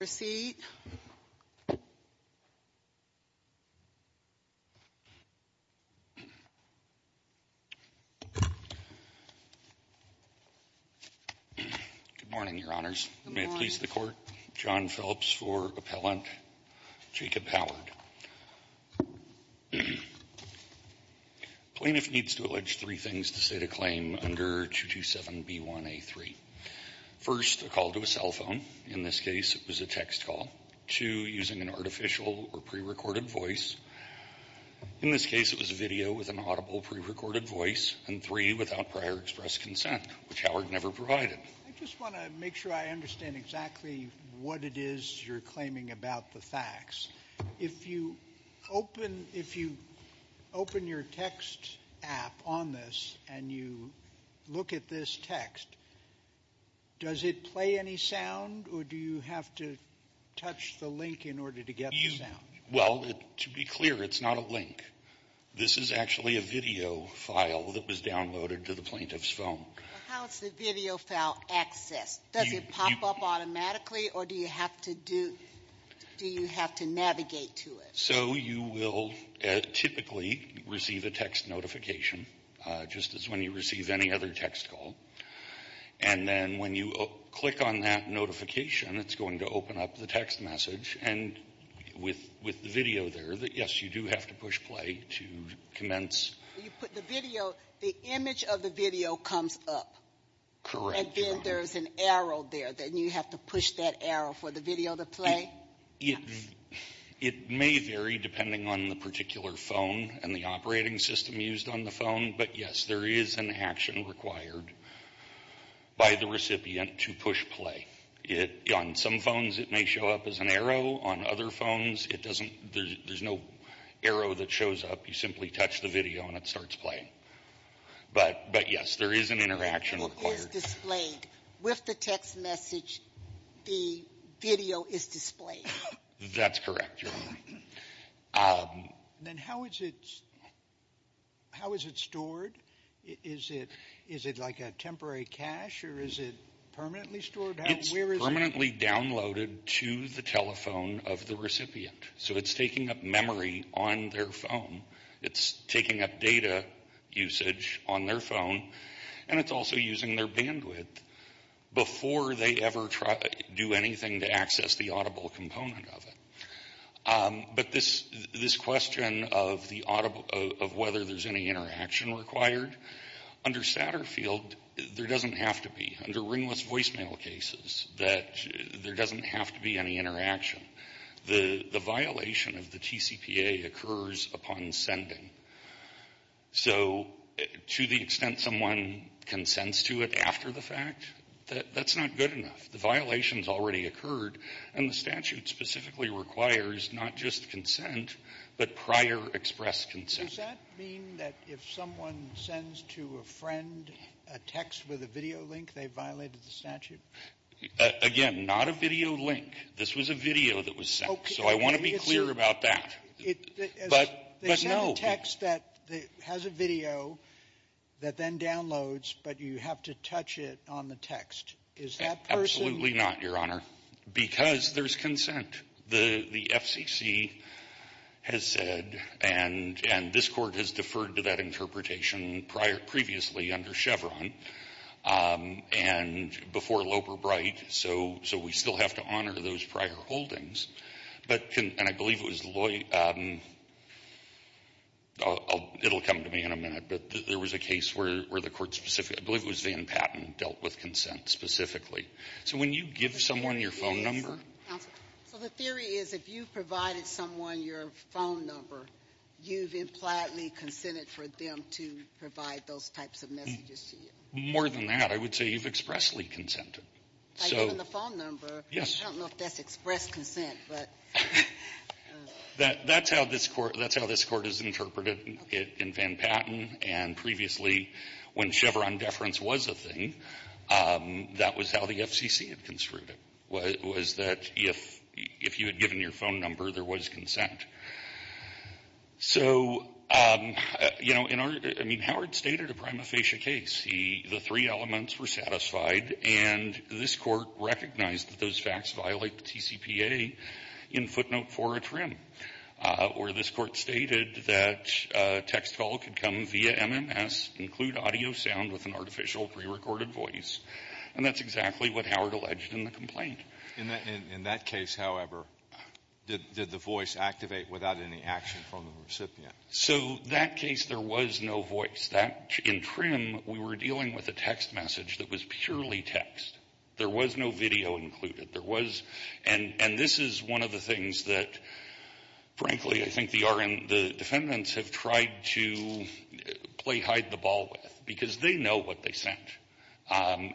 Good morning, Your Honors. May it please the Court. John Phelps for appellant. Jacob Howard. Plaintiff needs to allege three things to state a claim under 227b1a3. First, a call to a cell phone. In this case, it was a text call. Two, using an artificial or pre-recorded voice. In this case, it was a video with an audible pre-recorded voice. And three, without prior express consent, which Howard never provided. I just want to make sure I understand exactly what it is you're claiming about the facts. If you open your text app on this and you look at this text, does it play any sound or do you have to touch the link in order to get the sound? Well, to be clear, it's not a link. This is actually a video file that was downloaded to the plaintiff's phone. How is the video file accessed? Does it pop up automatically or do you have to navigate to it? So you will typically receive a text notification, just as when you receive any other text call. And then when you click on that notification, it's going to open up the text message. And with the video there, yes, you do have to push play to commence. You put the video, the image of the video comes up. Correct. And then there's an arrow there. Then you have to push that arrow for the video to play? It may vary depending on the particular phone and the operating system used on the phone. But, yes, there is an action required by the recipient to push play. On some phones, it may show up as an arrow. On other phones, it doesn't. There's no arrow that shows up. You simply touch the video and it starts playing. But, yes, there is an interaction required. It is displayed. With the text message, the video is displayed. That's correct, Your Honor. Then how is it stored? Is it like a temporary cache or is it permanently stored? It's permanently downloaded to the telephone of the recipient. So it's taking up memory on their phone. It's taking up data usage on their phone. And it's also using their bandwidth before they ever do anything to access the audible component of it. But this question of whether there's any interaction required, under Satterfield, there doesn't have to be. Under ringless voicemail cases, there doesn't have to be any interaction. The violation of the TCPA occurs upon sending. So to the extent someone consents to it after the fact, that's not good enough. The violation has already occurred, and the statute specifically requires not just consent, but prior express consent. Does that mean that if someone sends to a friend a text with a video link, they violated the statute? Again, not a video link. This was a video that was sent. So I want to be clear about that. But no. They send a text that has a video that then downloads, but you have to touch it on the text. Is that person — Absolutely not, Your Honor, because there's consent. The FCC has said, and this Court has deferred to that interpretation prior — previously under Chevron and before Loper-Bright, so we still have to honor those prior holdings. But can — and I believe it was Loy — it'll come to me in a minute, but there was a case where the Court specifically — I believe it was Van Patten dealt with consent specifically. So when you give someone your phone number — Counsel, so the theory is if you've provided someone your phone number, you've impliedly consented for them to provide those types of messages to you. More than that. I would say you've expressly consented. So — Even the phone number. Yes. I don't know if that's express consent, but — That's how this Court — that's how this Court has interpreted it in Van Patten. And previously, when Chevron deference was a thing, that was how the FCC had construed it, was that if you had given your phone number, there was consent. So, you know, in our — I mean, Howard stated a prima facie case. The three elements were satisfied, and this Court recognized that those facts violate the TCPA in footnote 4 of TRIM, where this Court stated that text call could come via MMS, include audio sound with an artificial pre-recorded voice, and that's exactly what Howard alleged in the complaint. In that case, however, did the voice activate without any action from the recipient? So that case, there was no voice. That — in TRIM, we were dealing with a text message that was purely text. There was no video included. There was — and this is one of the things that, frankly, I think the RN — the defendants have tried to play hide-the-ball with, because they know what they sent. And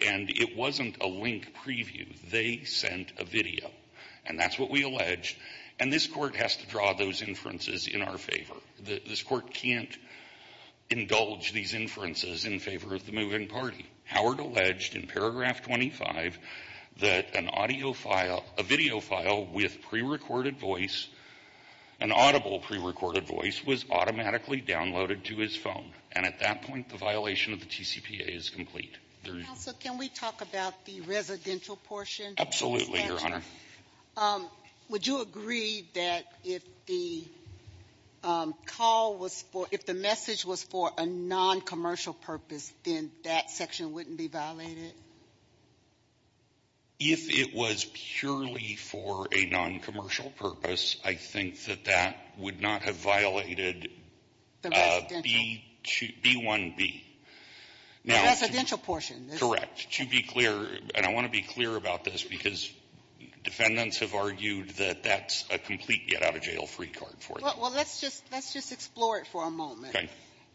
it wasn't a link preview. They sent a video. And that's what we alleged. And this Court has to draw those inferences in our favor. This Court can't indulge these inferences in favor of the moving party. Howard alleged in paragraph 25 that an audio file — a video file with pre-recorded voice, an audible pre-recorded voice, was automatically downloaded to his phone. And at that point, the violation of the TCPA is complete. Counsel, can we talk about the residential portion? Absolutely, Your Honor. Would you agree that if the call was for — if the message was for a non-commercial purpose, then that section wouldn't be violated? If it was purely for a non-commercial purpose, I think that that would not have violated The residential. B1B. The residential portion. Correct. To be clear, and I want to be clear about this, because defendants have argued that that's a complete get-out-of-jail-free card for them. Well, let's just explore it for a moment. Okay.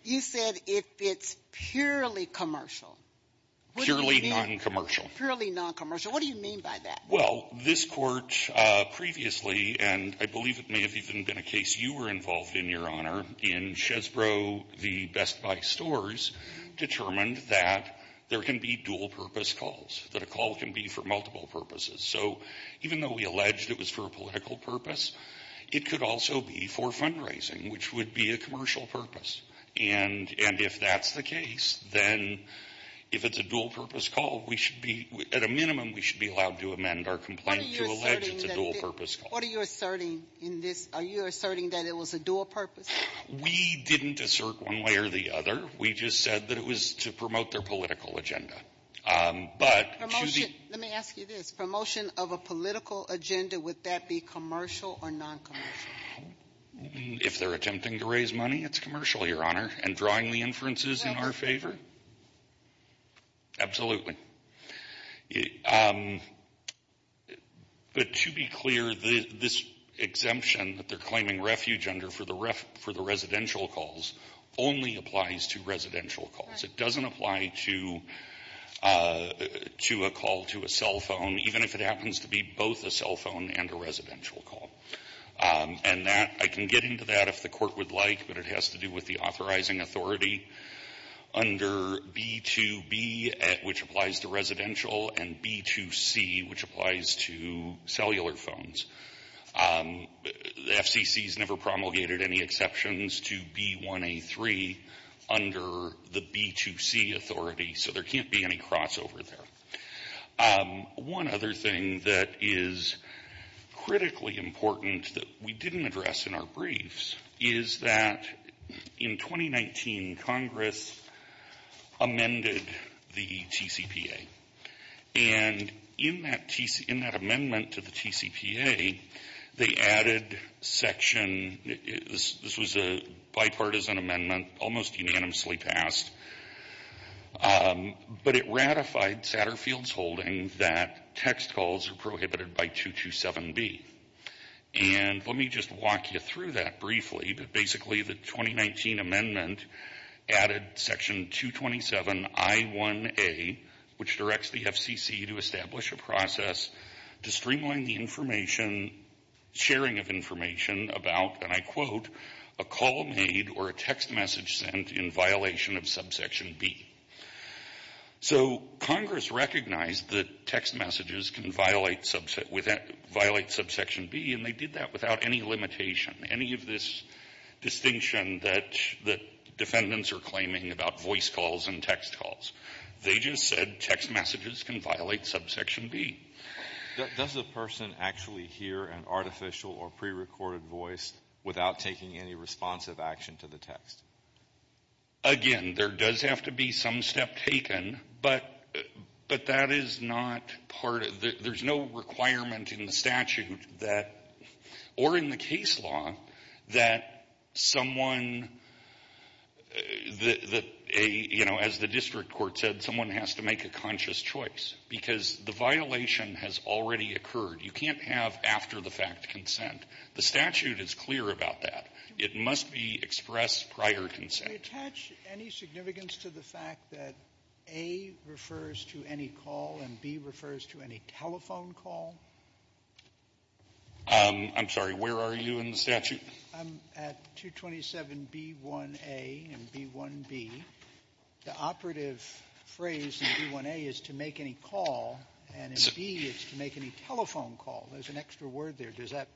You said if it's purely commercial. Purely non-commercial. Purely non-commercial. What do you mean by that? Well, this court previously, and I believe it may have even been a case you were involved in, Your Honor, in Chesbrough v. Best Buy Stores, determined that there can be dual-purpose calls, that a call can be for multiple purposes. So even though we alleged it was for a political purpose, it could also be for fundraising, which would be a commercial purpose. And if that's the case, then if it's a dual-purpose call, we should be — at a minimum, we should be allowed to amend our complaint to allege it's a dual-purpose call. What are you asserting in this? Are you asserting that it was a dual-purpose? We didn't assert one way or the other. We just said that it was to promote their political agenda. But to the — Promotion. Let me ask you this. Promotion of a political agenda, would that be commercial or non-commercial? If they're attempting to raise money, it's commercial, Your Honor. And drawing the inferences in our favor? Absolutely. But to be clear, this exemption that they're claiming refuge under for the residential calls only applies to residential calls. Right. It doesn't apply to a call to a cell phone, even if it happens to be both a cell phone and a residential call. And that — I can get into that if the Court would like, but it has to do with the authorizing authority under B2B, which applies to residential, and B2C, which applies to cellular phones. The FCC has never promulgated any exceptions to B1A3 under the B2C authority, so there can't be any crossover there. One other thing that is critically important that we didn't address in our briefs is that in 2019, Congress amended the TCPA. And in that amendment to the TCPA, they added section — this was a bipartisan amendment, almost unanimously passed, but it ratified Satterfield's holding that text calls are prohibited by 227B. And let me just walk you through that briefly. Basically, the 2019 amendment added section 227I1A, which directs the FCC to establish a process to streamline the information — sharing of information about, and I quote, a call made or a text message sent in violation of subsection B. So Congress recognized that text messages can violate subsection B, and they did that without any limitation, any of this distinction that defendants are claiming about voice calls and text calls. They just said text messages can violate subsection B. Does a person actually hear an artificial or prerecorded voice without taking any responsive action to the text? Again, there does have to be some step taken, but that is not part of — there's no requirement in the statute that — or in the case law that someone — that a — you know, as the district court said, someone has to make a conscious choice because the violation has already occurred. You can't have after-the-fact consent. The statute is clear about that. It must be expressed prior consent. Do we attach any significance to the fact that A refers to any call and B refers to any telephone call? I'm sorry. Where are you in the statute? Sotomayor, I'm at 227B1A and B1B. The operative phrase in B1A is to make any call, and in B it's to make any telephone call. There's an extra word there. Does that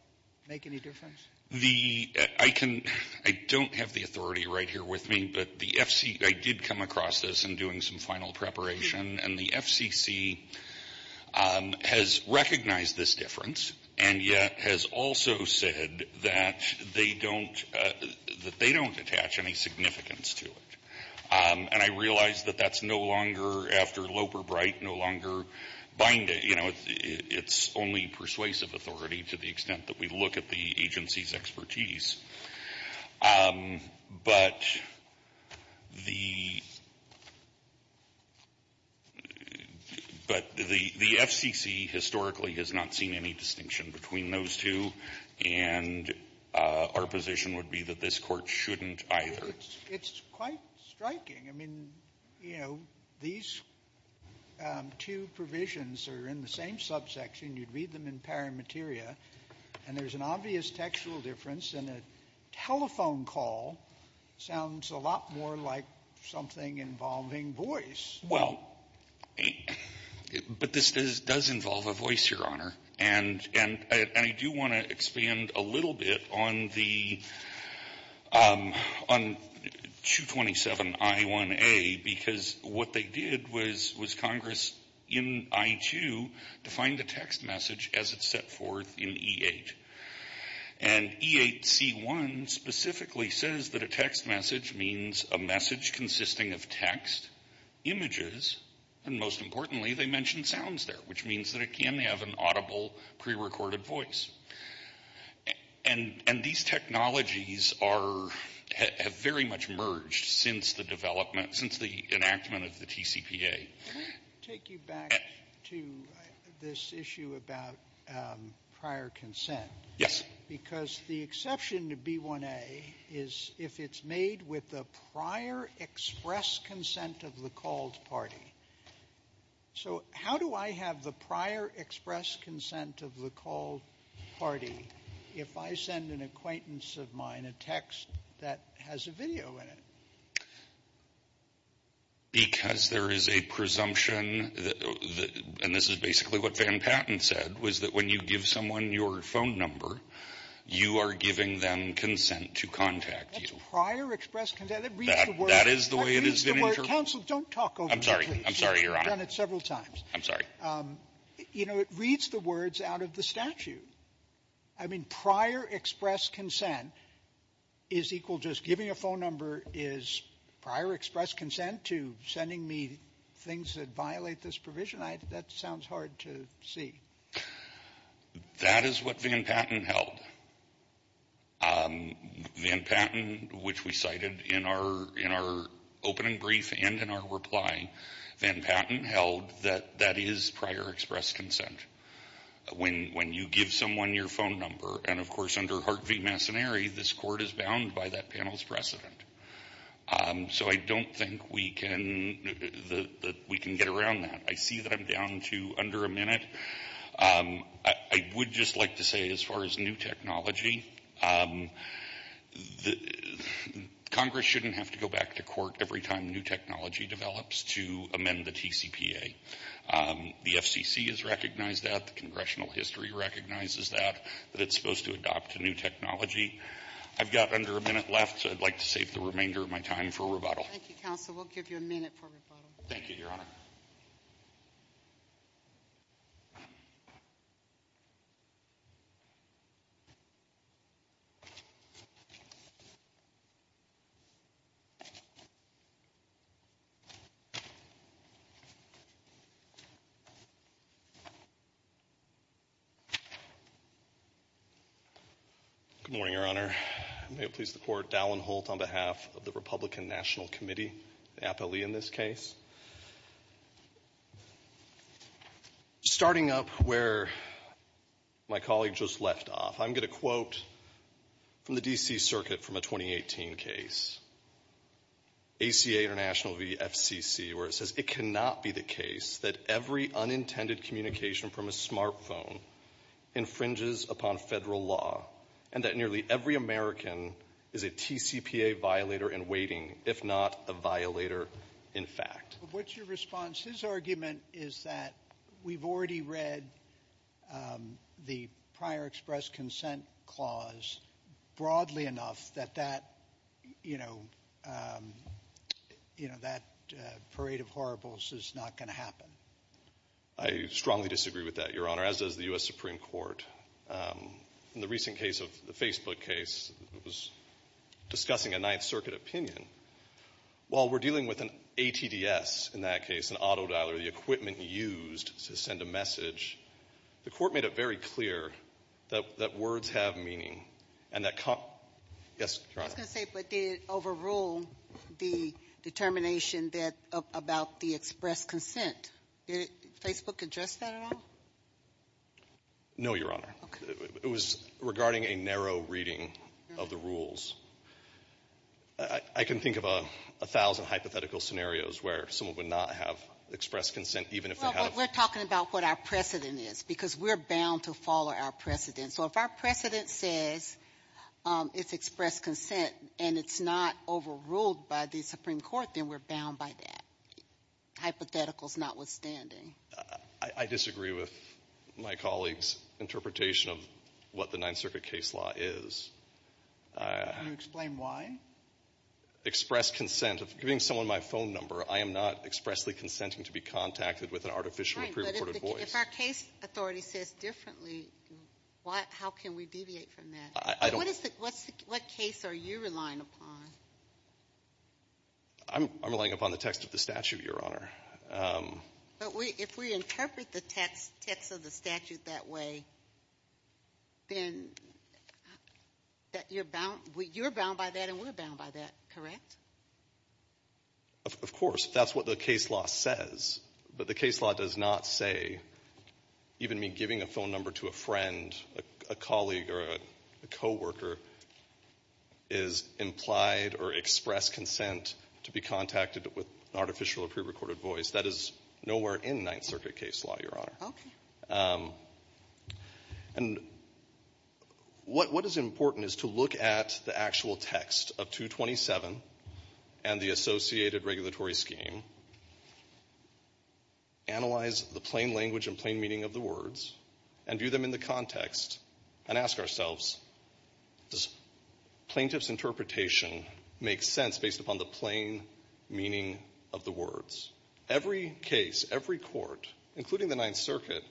make any difference? The — I can — I don't have the authority right here with me, but the FCC — I did come across this in doing some final preparation, and the FCC has recognized this difference and yet has also said that they don't — that they don't attach any significance to it. And I realize that that's no longer, after Loeb or Bright, no longer binding. You know, it's only persuasive authority to the extent that we look at the agency's expertise. But the — but the FCC historically has not seen any distinction between those two, and our position would be that this Court shouldn't either. It's quite striking. I mean, you know, these two provisions are in the same subsection. You'd read them in pari materia, and there's an obvious textual difference, and a telephone call sounds a lot more like something involving voice. Well, but this does involve a voice, Your Honor, and I do want to expand a little bit on the — on 227I1A, because what they did was Congress in I-2 defined a text message as it's set forth in E-8. And E-8C1 specifically says that a text message means a message consisting of text, images, and most importantly, they mention sounds there, which means that it can have an audible, prerecorded voice. And these technologies are — have very much merged since the development — since the enactment of the TCPA. Can I take you back to this issue about prior consent? Yes. Because the exception to B1A is if it's made with the prior express consent of the called party. So how do I have the prior express consent of the called party if I send an acquaintance of mine a text that has a video in it? Because there is a presumption, and this is basically what Van Patten said, was that when you give someone your phone number, you are giving them consent to contact you. That's prior express consent. That reads the words. That is the way it is. Counsel, don't talk over me, please. I'm sorry. I'm sorry, Your Honor. You've done it several times. I'm sorry. You know, it reads the words out of the statute. I mean, prior express consent is equal — just giving a phone number is prior express consent to sending me things that violate this provision? That sounds hard to see. That is what Van Patten held. Van Patten, which we cited in our opening brief and in our reply, Van Patten held that that is prior express consent. When you give someone your phone number, and of course, under Hart v. Massoneri, this court is bound by that panel's precedent. So I don't think we can get around that. I see that I'm down to under a minute. I would just like to say, as far as new technology, Congress shouldn't have to go back to court every time new technology develops to amend the TCPA. The FCC has recognized that. The congressional history recognizes that, that it's supposed to adopt a new technology. I've got under a minute left, so I'd like to save the remainder of my time for rebuttal. Thank you, counsel. We'll give you a minute for rebuttal. Thank you, Your Honor. Good morning, Your Honor. May it please the Court, Dallin Holt on behalf of the Republican National Committee, the Starting up where my colleague just left off, I'm going to quote from the D.C. Circuit from a 2018 case, ACA International v. FCC, where it says, it cannot be the case that every unintended communication from a smartphone infringes upon Federal law, and that nearly every American is a TCPA violator in waiting, if not a violator in fact. What's your response? His argument is that we've already read the prior express consent clause broadly enough that that, you know, that parade of horribles is not going to happen. I strongly disagree with that, Your Honor, as does the U.S. Supreme Court. In the recent case of the Facebook case, it was discussing a Ninth Circuit opinion. While we're dealing with an ATDS in that case, an autodialer, the equipment used to send a message, the Court made it very clear that words have meaning and that con — yes, Your Honor. I was going to say, but did it overrule the determination that — about the express consent? Did Facebook address that at all? No, Your Honor. Okay. It was regarding a narrow reading of the rules. I can think of a thousand hypothetical scenarios where someone would not have express consent, even if they had a — Well, but we're talking about what our precedent is, because we're bound to follow our precedent. So if our precedent says it's express consent and it's not overruled by the Supreme Court, then we're bound by that, hypotheticals notwithstanding. I disagree with my colleague's interpretation of what the Ninth Circuit case law is. Can you explain why? Express consent. If I'm giving someone my phone number, I am not expressly consenting to be contacted with an artificial or pre-recorded voice. Right, but if our case authority says differently, how can we deviate from that? I don't — What case are you relying upon? I'm relying upon the text of the statute, Your Honor. But if we interpret the text of the statute that way, then you're bound by that and we're bound by that, correct? Of course. That's what the case law says. But the case law does not say, even me giving a phone number to a friend, a colleague or a co-worker is implied or express consent to be contacted with an artificial or pre-recorded voice. That is nowhere in Ninth Circuit case law, Your Honor. And what is important is to look at the actual text of 227 and the associated regulatory scheme, analyze the plain language and plain meaning of the words, and view them in the context, and ask ourselves, does plaintiff's interpretation make sense based upon the plain meaning of the words? Every case, every court, including the Ninth Circuit,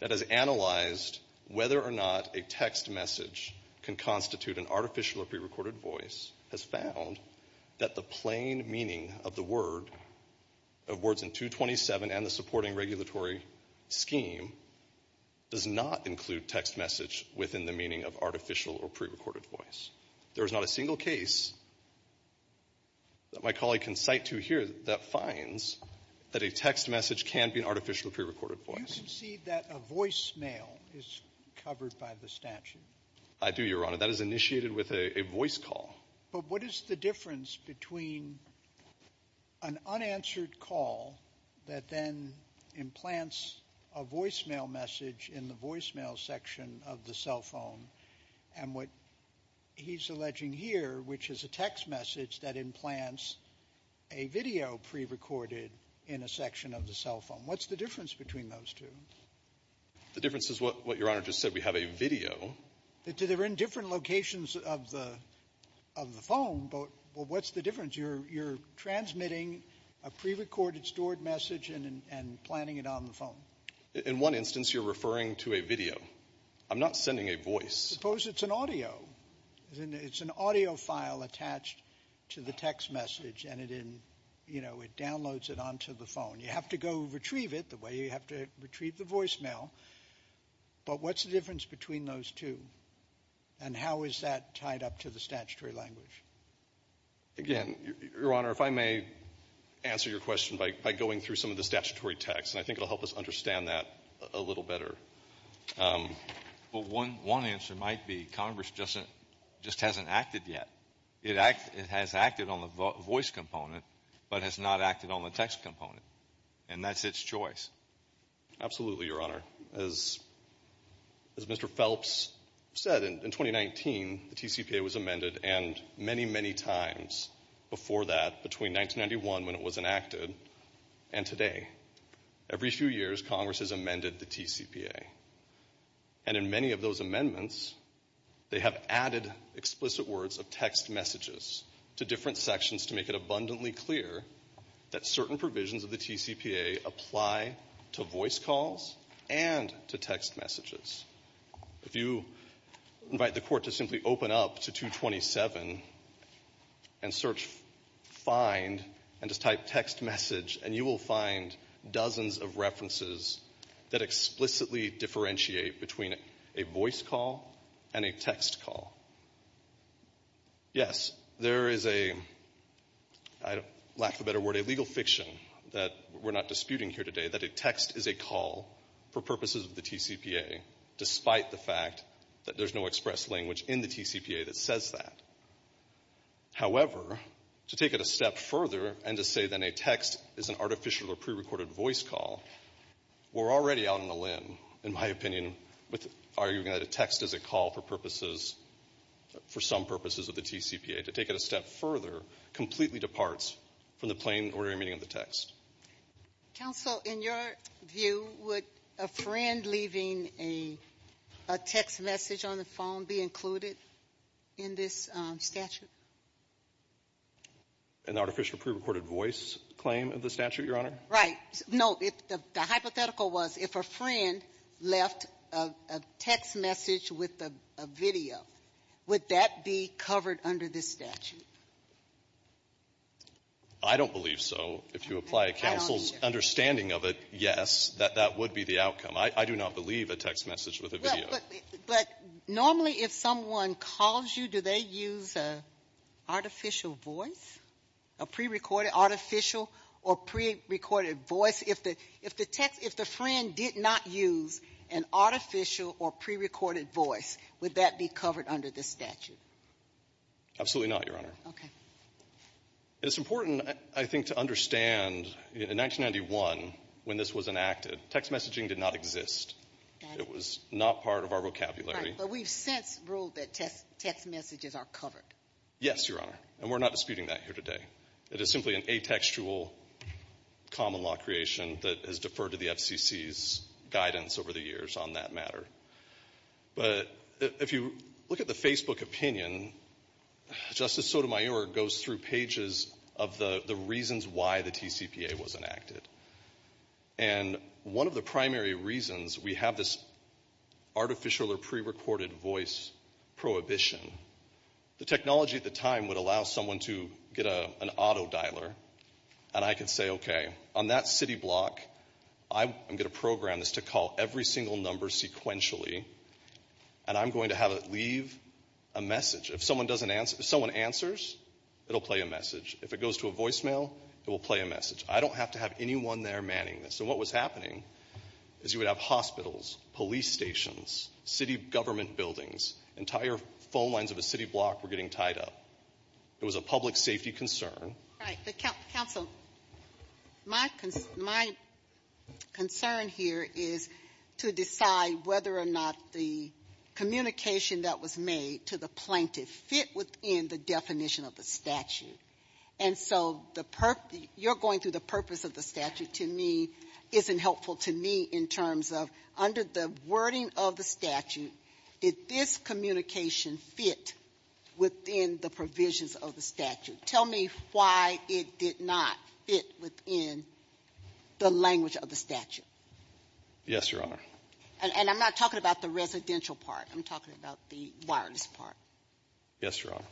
that has analyzed whether or not a text message can constitute an artificial or pre-recorded voice has found that the plain meaning of the word, of words in 227 and the supporting regulatory scheme, does not include text message within the meaning of artificial or pre-recorded voice. There is not a single case that my colleague can cite to here that finds that a text message can be an artificial or pre-recorded voice. You concede that a voicemail is covered by the statute? I do, Your Honor. That is initiated with a voice call. But what is the difference between an unanswered call that then implants a voicemail message in the voicemail section of the cell phone, and what he's alleging here, which is a text message that implants a video pre-recorded in a section of the cell phone? What's the difference between those two? The difference is what Your Honor just said. We have a video. They're in different locations of the phone, but what's the difference? You're transmitting a pre-recorded stored message and planning it on the phone. In one instance, you're referring to a video. I'm not sending a voice. Suppose it's an audio. It's an audio file attached to the text message, and it, you know, it downloads it onto the phone. You have to go retrieve it the way you have to retrieve the voicemail. But what's the difference between those two, and how is that tied up to the statutory language? Again, Your Honor, if I may answer your question by going through some of the statutory text, and I think it'll help us understand that a little better. Well, one answer might be Congress just hasn't acted yet. It has acted on the voice component, but has not acted on the text component, and that's its choice. Absolutely, Your Honor. As Mr. Phelps said, in 2019, the TCPA was amended, and many, many times before that, between 1991, when it was enacted, and today. Every few years, Congress has amended the TCPA, and in many of those amendments, they have added explicit words of text messages to different sections to make it abundantly clear that certain provisions of the TCPA apply to voice calls and to text messages. If you invite the Court to simply open up to 227 and search, find, and just type text message, and you will find dozens of references that explicitly differentiate between a voice call and a text call. Yes, there is a, lack of a better word, a legal fiction that we're not disputing here today, that a text is a call for purposes of the TCPA, despite the fact that there's no express language in the TCPA that says that. However, to take it a step further and to say that a text is an artificial or prerecorded voice call, we're already out on a limb, in my opinion, with arguing that a text is a call for purposes, for some purposes of the TCPA. To take it a step further completely departs from the plain, ordinary meaning of the text. Ginsburg. Counsel, in your view, would a friend leaving a text message on the phone be included in this statute? An artificial prerecorded voice claim of the statute, Your Honor? Right. No. The hypothetical was if a friend left a text message with a video, would that be covered under this statute? I don't believe so. If you apply a counsel's understanding of it, yes, that that would be the outcome. I do not believe a text message with a video. But normally if someone calls you, do they use an artificial voice, a prerecorded artificial or prerecorded voice? If the text, if the friend did not use an artificial or prerecorded voice, would that be covered under the statute? Absolutely not, Your Honor. Okay. It's important, I think, to understand in 1991 when this was enacted, text messaging did not exist. It was not part of our vocabulary. Right. But we've since ruled that text messages are covered. Yes, Your Honor. And we're not disputing that here today. It is simply an atextual common law creation that has deferred to the FCC's guidance over the years on that matter. But if you look at the Facebook opinion, Justice Sotomayor goes through pages of the reasons why the TCPA was enacted. And one of the primary reasons we have this artificial or prerecorded voice prohibition, the technology at the time would allow someone to get an auto dialer and I could say, okay, on that city block, I'm going to program this to call every single number sequentially, and I'm going to have it leave a message. If someone answers, it'll play a message. If it goes to a voicemail, it will play a message. I don't have to have anyone there manning this. And what was happening is you would have hospitals, police stations, city government buildings, entire phone lines of a city block were getting tied up. It was a public safety concern. Right. Counsel, my concern here is to decide whether or not the communication that was made to the plaintiff fit within the definition of the statute. And so you're going through the purpose of the statute to me isn't helpful to me in terms of under the wording of the statute, did this communication fit within the provisions of the statute? Tell me why it did not fit within the language of the statute. Yes, Your Honor. And I'm not talking about the residential part. I'm talking about the wireless part. Yes, Your Honor.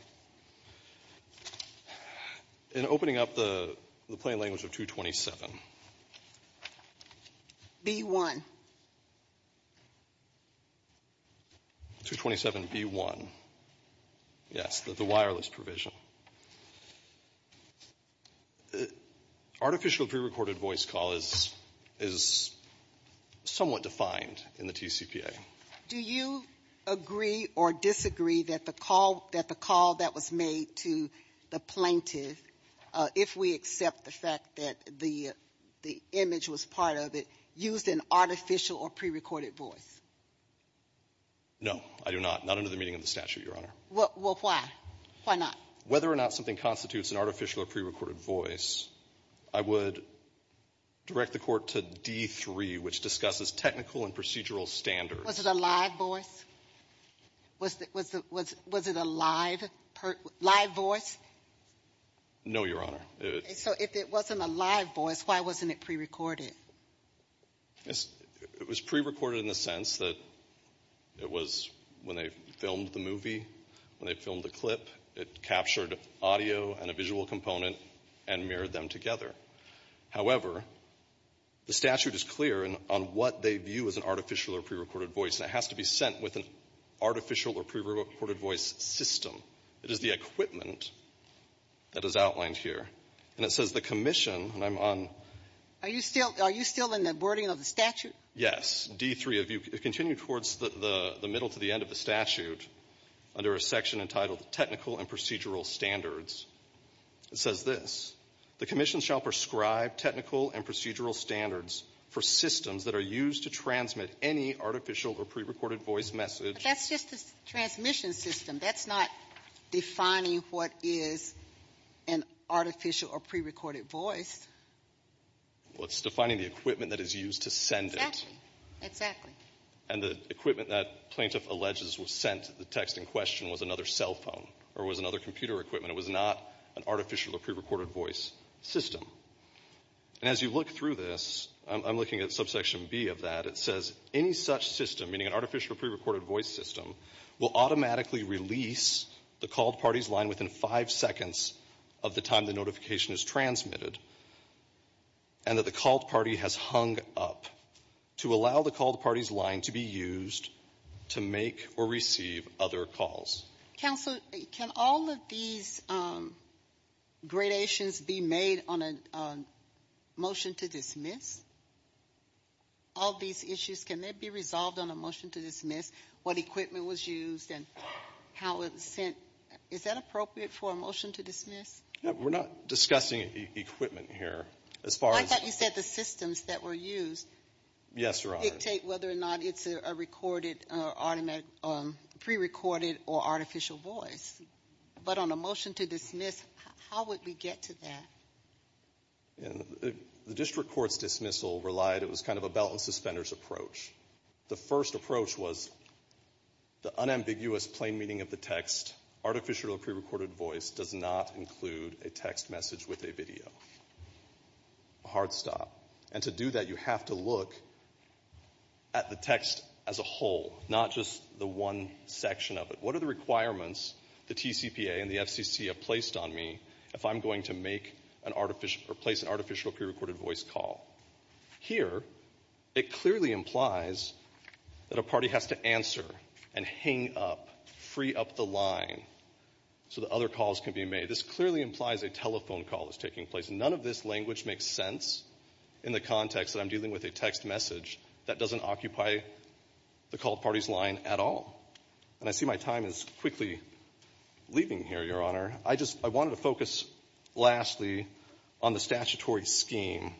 In opening up the plain language of 227. B-1. 227b-1. Yes, the wireless provision. Artificial prerecorded voice call is somewhat defined in the TCPA. Do you agree or disagree that the call that was made to the plaintiff, if we accept the fact that the image was part of it, used an artificial or prerecorded voice? No, I do not. Not under the meaning of the statute, Your Honor. Well, why? Why not? Whether or not something constitutes an artificial or prerecorded voice, I would direct the Court to D-3, which discusses technical and procedural standards. Was it a live voice? Was it a live, live voice? No, Your Honor. So if it wasn't a live voice, why wasn't it prerecorded? It was prerecorded in the sense that it was when they filmed the movie. When they filmed the clip, it captured audio and a visual component and mirrored them together. However, the statute is clear on what they view as an artificial or prerecorded voice, and it has to be sent with an artificial or prerecorded voice system. It is the equipment that is outlined here. And it says the commission, and I'm on — Are you still in the wording of the statute? Yes. D-3, if you continue towards the middle to the end of the statute, under a section entitled technical and procedural standards, it says this. The commission shall prescribe technical and procedural standards for systems that are used to transmit any artificial or prerecorded voice message. That's just the transmission system. That's not defining what is an artificial or prerecorded voice. Well, it's defining the equipment that is used to send it. Exactly. Exactly. And the equipment that Plaintiff alleges was sent, the text in question, was another cell phone or was another computer equipment. It was not an artificial or prerecorded voice system. And as you look through this, I'm looking at subsection B of that. It says any such system, meaning an artificial or prerecorded voice system, will automatically release the called party's line within five seconds of the time the notification is transmitted and that the called party has hung up to allow the called party's line to be used to make or receive other calls. Counsel, can all of these gradations be made on a motion to dismiss? All these issues, can they be resolved on a motion to dismiss? What equipment was used and how it was sent. Is that appropriate for a motion to dismiss? We're not discussing equipment here. I thought you said the systems that were used dictate whether or not it's a recorded or prerecorded or artificial voice. But on a motion to dismiss, how would we get to that? The district court's dismissal relied, it was kind of a belt and suspenders approach. The first approach was the unambiguous plain meaning of the text, artificial or prerecorded voice does not include a text message with a video. A hard stop. And to do that, you have to look at the text as a whole, not just the one section of it. What are the requirements the TCPA and the FCC have placed on me if I'm going to make or place an artificial or prerecorded voice call? Here, it clearly implies that a party has to answer and hang up, free up the line so that other calls can be made. This clearly implies a telephone call is taking place. None of this language makes sense in the context that I'm dealing with a text message that doesn't occupy the called party's line at all. And I see my time is quickly leaving here, Your Honor. I just, I wanted to focus lastly on the statutory scheme,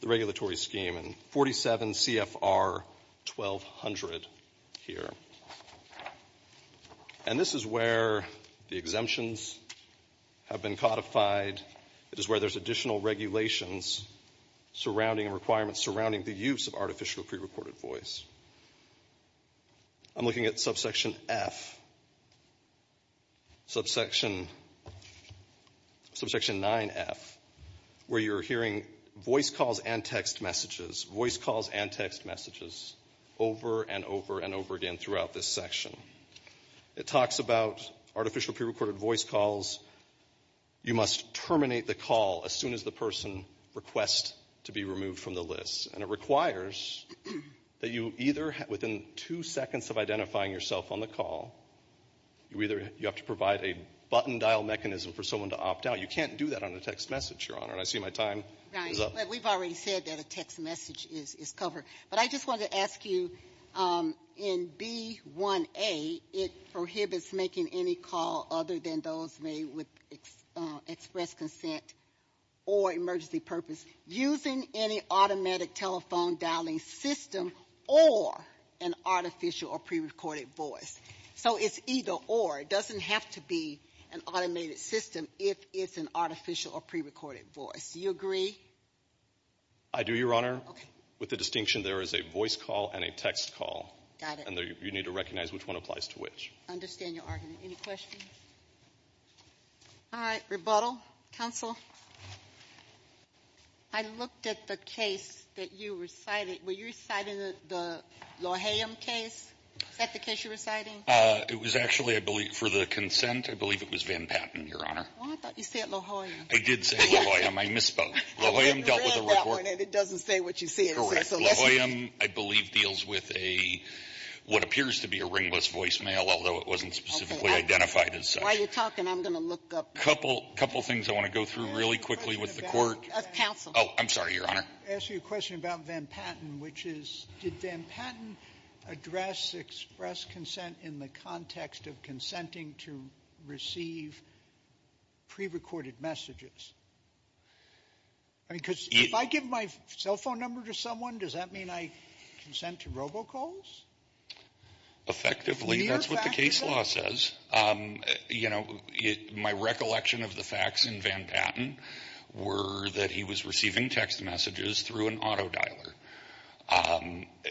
the regulatory scheme. And 47 CFR 1200 here. And this is where the exemptions have been codified. It is where there's additional regulations surrounding requirements, surrounding the use of artificial or prerecorded voice. I'm looking at subsection F, subsection 9F, where you're hearing voice calls and text messages, voice calls and text messages over and over and over again throughout this section. It talks about artificial prerecorded voice calls. You must terminate the call as soon as the person requests to be removed from the list. And it requires that you either, within two seconds of identifying yourself on the call, you either have to provide a button dial mechanism for someone to opt out. You can't do that on a text message, Your Honor. And I see my time is up. Right, but we've already said that a text message is covered. But I just wanted to ask you, in B1A, it prohibits making any call other than those made with express consent or emergency purpose using any automatic telephone dialing system or an artificial or prerecorded voice. So it's either or. It doesn't have to be an automated system if it's an artificial or prerecorded voice. Do you agree? I do, Your Honor. Okay. With the distinction there is a voice call and a text call. Got it. And you need to recognize which one applies to which. I understand your argument. Any questions? All right. Rebuttal. Counsel. I looked at the case that you recited. Were you reciting the La Jolla case? Is that the case you're reciting? It was actually, I believe, for the consent. I believe it was Van Patten, Your Honor. Well, I thought you said La Jolla. I did say La Jolla. I misspoke. La Jolla dealt with a report. I read that one, and it doesn't say what you said. Correct. La Jolla, I believe, deals with what appears to be a ringless voicemail, although it wasn't specifically identified as such. While you're talking, I'm going to look up. A couple of things I want to go through really quickly with the Court. Counsel. Oh, I'm sorry, Your Honor. I'm going to ask you a question about Van Patten, which is, did Van Patten address express consent in the context of consenting to receive prerecorded messages? I mean, because if I give my cell phone number to someone, does that mean I consent to robocalls? Effectively, that's what the case law says. You know, my recollection of the facts in Van Patten were that he was receiving text messages through an auto dialer.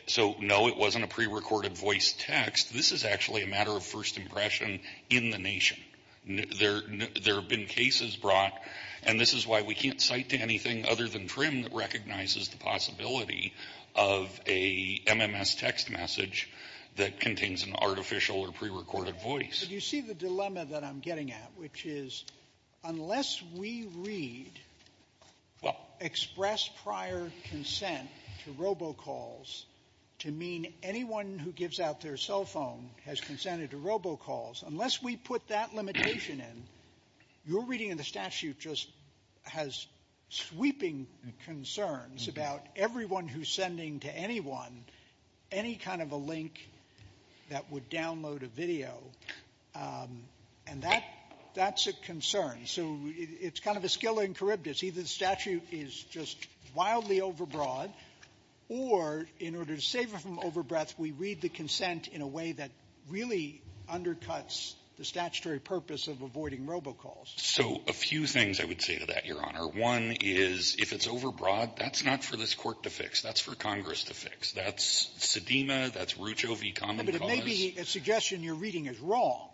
So, no, it wasn't a prerecorded voice text. This is actually a matter of first impression in the nation. There have been cases brought, and this is why we can't cite to anything other than the possibility of a MMS text message that contains an artificial or prerecorded voice. But you see the dilemma that I'm getting at, which is, unless we read express prior consent to robocalls to mean anyone who gives out their cell phone has consented to robocalls, unless we put that limitation in, your reading of the statute just has sweeping concerns about everyone who's sending to anyone any kind of a link that would download a video. And that's a concern. So it's kind of a skill in charybdis. Either the statute is just wildly overbroad, or in order to save it from overbreath, we read the consent in a way that really undercuts the statutory purpose of avoiding robocalls. So a few things I would say to that, Your Honor. One is, if it's overbroad, that's not for this Court to fix. That's for Congress to fix. That's Sedema. That's Rucho v. Common Cause. But it may be a suggestion your reading is wrong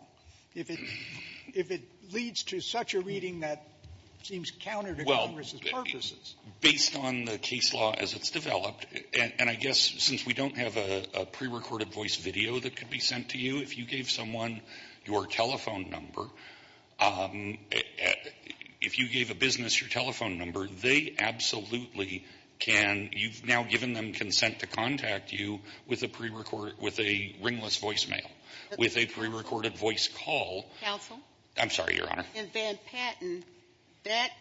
if it leads to such a reading that seems counter to Congress's purposes. Well, based on the case law as it's developed, and I guess since we don't have a prerecorded voice video that could be sent to you, if you gave someone your telephone number, if you gave a business your telephone number, they absolutely can, you've now given them consent to contact you with a ringless voicemail, with a prerecorded voice call. Counsel? I'm sorry, Your Honor. In Van Patten, that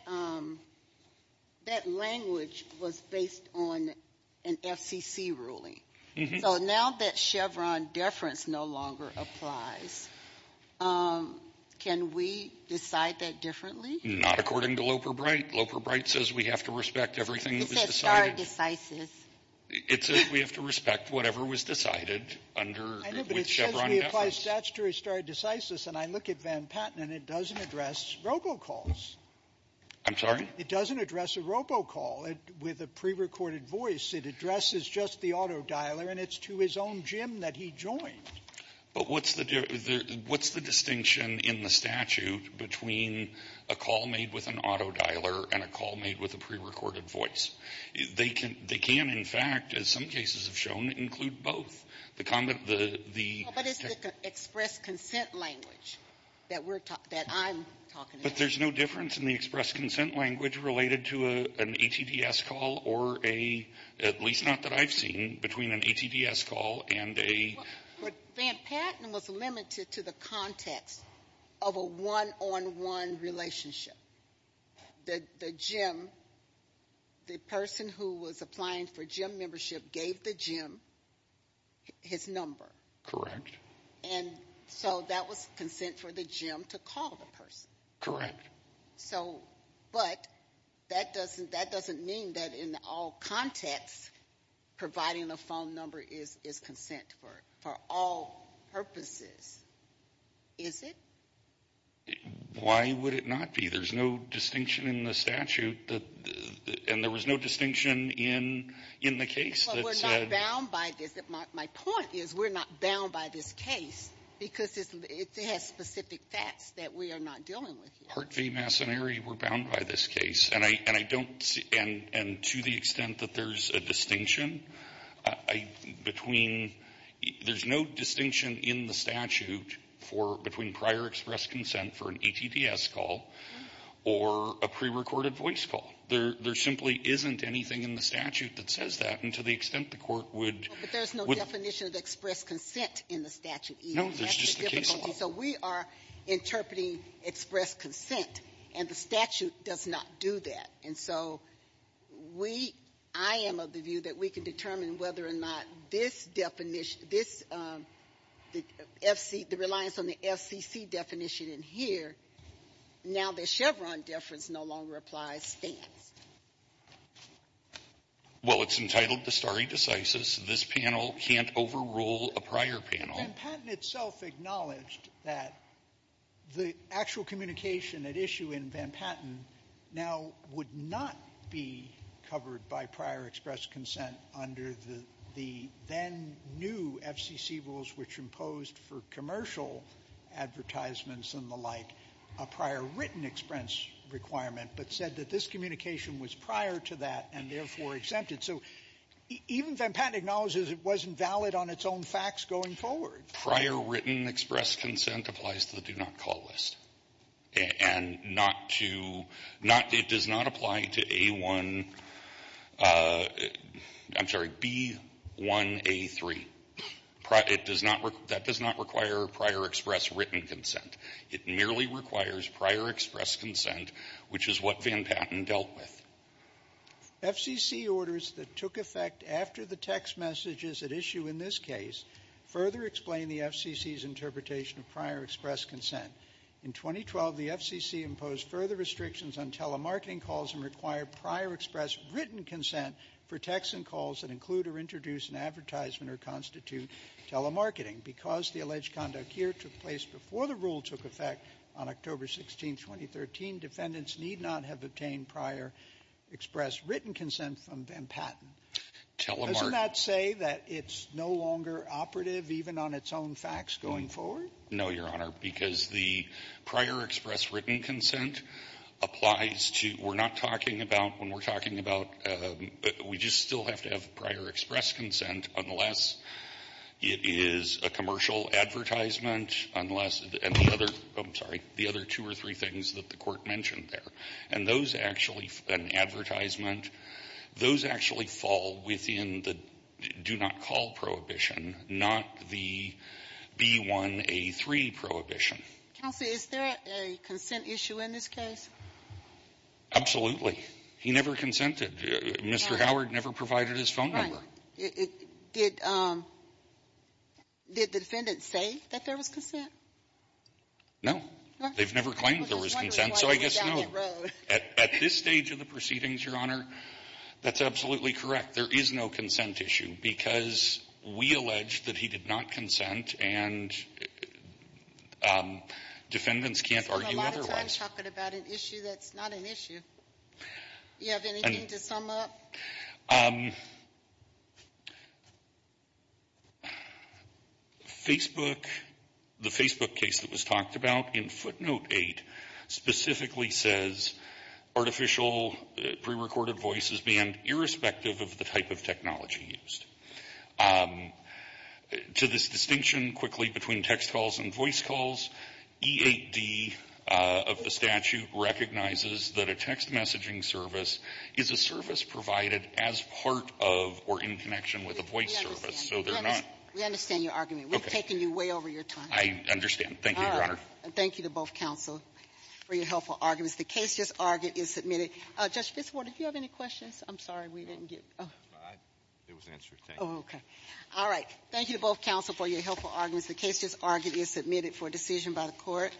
language was based on an FCC ruling. So now that Chevron deference no longer applies, can we decide that differently? Not according to Loper-Bright. Loper-Bright says we have to respect everything that was decided. It said stare decisis. It says we have to respect whatever was decided under Chevron deference. I know, but it says we apply statutory stare decisis, and I look at Van Patten and it doesn't address robocalls. I'm sorry? It doesn't address a robocall with a prerecorded voice. It addresses just the autodialer, and it's to his own gym that he joined. But what's the distinction in the statute between a call made with an autodialer and a call made with a prerecorded voice? They can, in fact, as some cases have shown, include both. But it's the express consent language that I'm talking about. But there's no difference in the express consent language related to an ATDS call or a, at least not that I've seen, between an ATDS call and a... But Van Patten was limited to the context of a one-on-one relationship. The gym, the person who was applying for gym membership gave the gym his number. Correct. And so that was consent for the gym to call the person. Correct. So, but that doesn't mean that in all contexts providing a phone number is consent for all purposes. Is it? Why would it not be? There's no distinction in the statute, and there was no distinction in the case that said... My point is we're not bound by this case because it has specific facts that we are not dealing with here. Hart v. Massoneri, we're bound by this case. And I don't see and to the extent that there's a distinction between, there's no distinction in the statute for, between prior express consent for an ATDS call or a prerecorded voice call. There simply isn't anything in the statute that says that. And to the extent the Court would... But there's no definition of express consent in the statute either. No, there's just the case law. So we are interpreting express consent, and the statute does not do that. And so we, I am of the view that we can determine whether or not this definition, this FC, the reliance on the FCC definition in here, now the Chevron deference no longer applies, stands. Well, it's entitled to stare decisis. This panel can't overrule a prior panel. Van Patten itself acknowledged that the actual communication at issue in Van Patten now would not be covered by prior express consent under the then-new FCC rules which imposed for commercial advertisements and the like a prior written express requirement, but said that this communication was prior to that and therefore exempted. So even Van Patten acknowledges it wasn't valid on its own facts going forward. Prior written express consent applies to the do not call list. And not to, not, it does not apply to A1, I'm sorry, B1A3. It does not, that does not require prior express written consent. It merely requires prior express consent, which is what Van Patten dealt with. FCC orders that took effect after the text messages at issue in this case further explain the FCC's interpretation of prior express consent. In 2012, the FCC imposed further restrictions on telemarketing calls and required prior express written consent for texts and calls that include or introduce an advertisement or constitute telemarketing. Because the alleged conduct here took place before the rule took effect on October 16, 2013, defendants need not have obtained prior express written consent from Van Patten. Telemarketing. Doesn't that say that it's no longer operative even on its own facts going forward? No, Your Honor, because the prior express written consent applies to, we're not talking about when we're talking about, we just still have to have prior express consent unless it is a commercial advertisement, unless, and the other, I'm sorry, the other two or three things that the Court mentioned there. And those actually, an advertisement, those actually fall within the do not call prohibition, not the B1A3 prohibition. Counsel, is there a consent issue in this case? Absolutely. He never consented. Mr. Howard never provided his phone number. Did the defendant say that there was consent? No. They've never claimed there was consent, so I guess no. At this stage of the proceedings, Your Honor, that's absolutely correct. There is no consent issue because we allege that he did not consent and defendants can't argue otherwise. He's been a lot of times talking about an issue that's not an issue. Do you have anything to sum up? Facebook, the Facebook case that was talked about in footnote 8 specifically says artificial prerecorded voice is banned irrespective of the type of technology used. To this distinction quickly between text calls and voice calls, E8D of the statute recognizes that a text messaging service is a service provided as part of or in connection with a voice service, so they're not. We understand your argument. Okay. We've taken you way over your time. I understand. Thank you, Your Honor. All right. Thank you to both counsel for your helpful arguments. The case just argued is submitted. Judge Fitzwater, do you have any questions? I'm sorry. We didn't get to them. It was an answer. Oh, okay. All right. Thank you to both counsel for your helpful arguments. The case just argued is submitted for decision by the Court.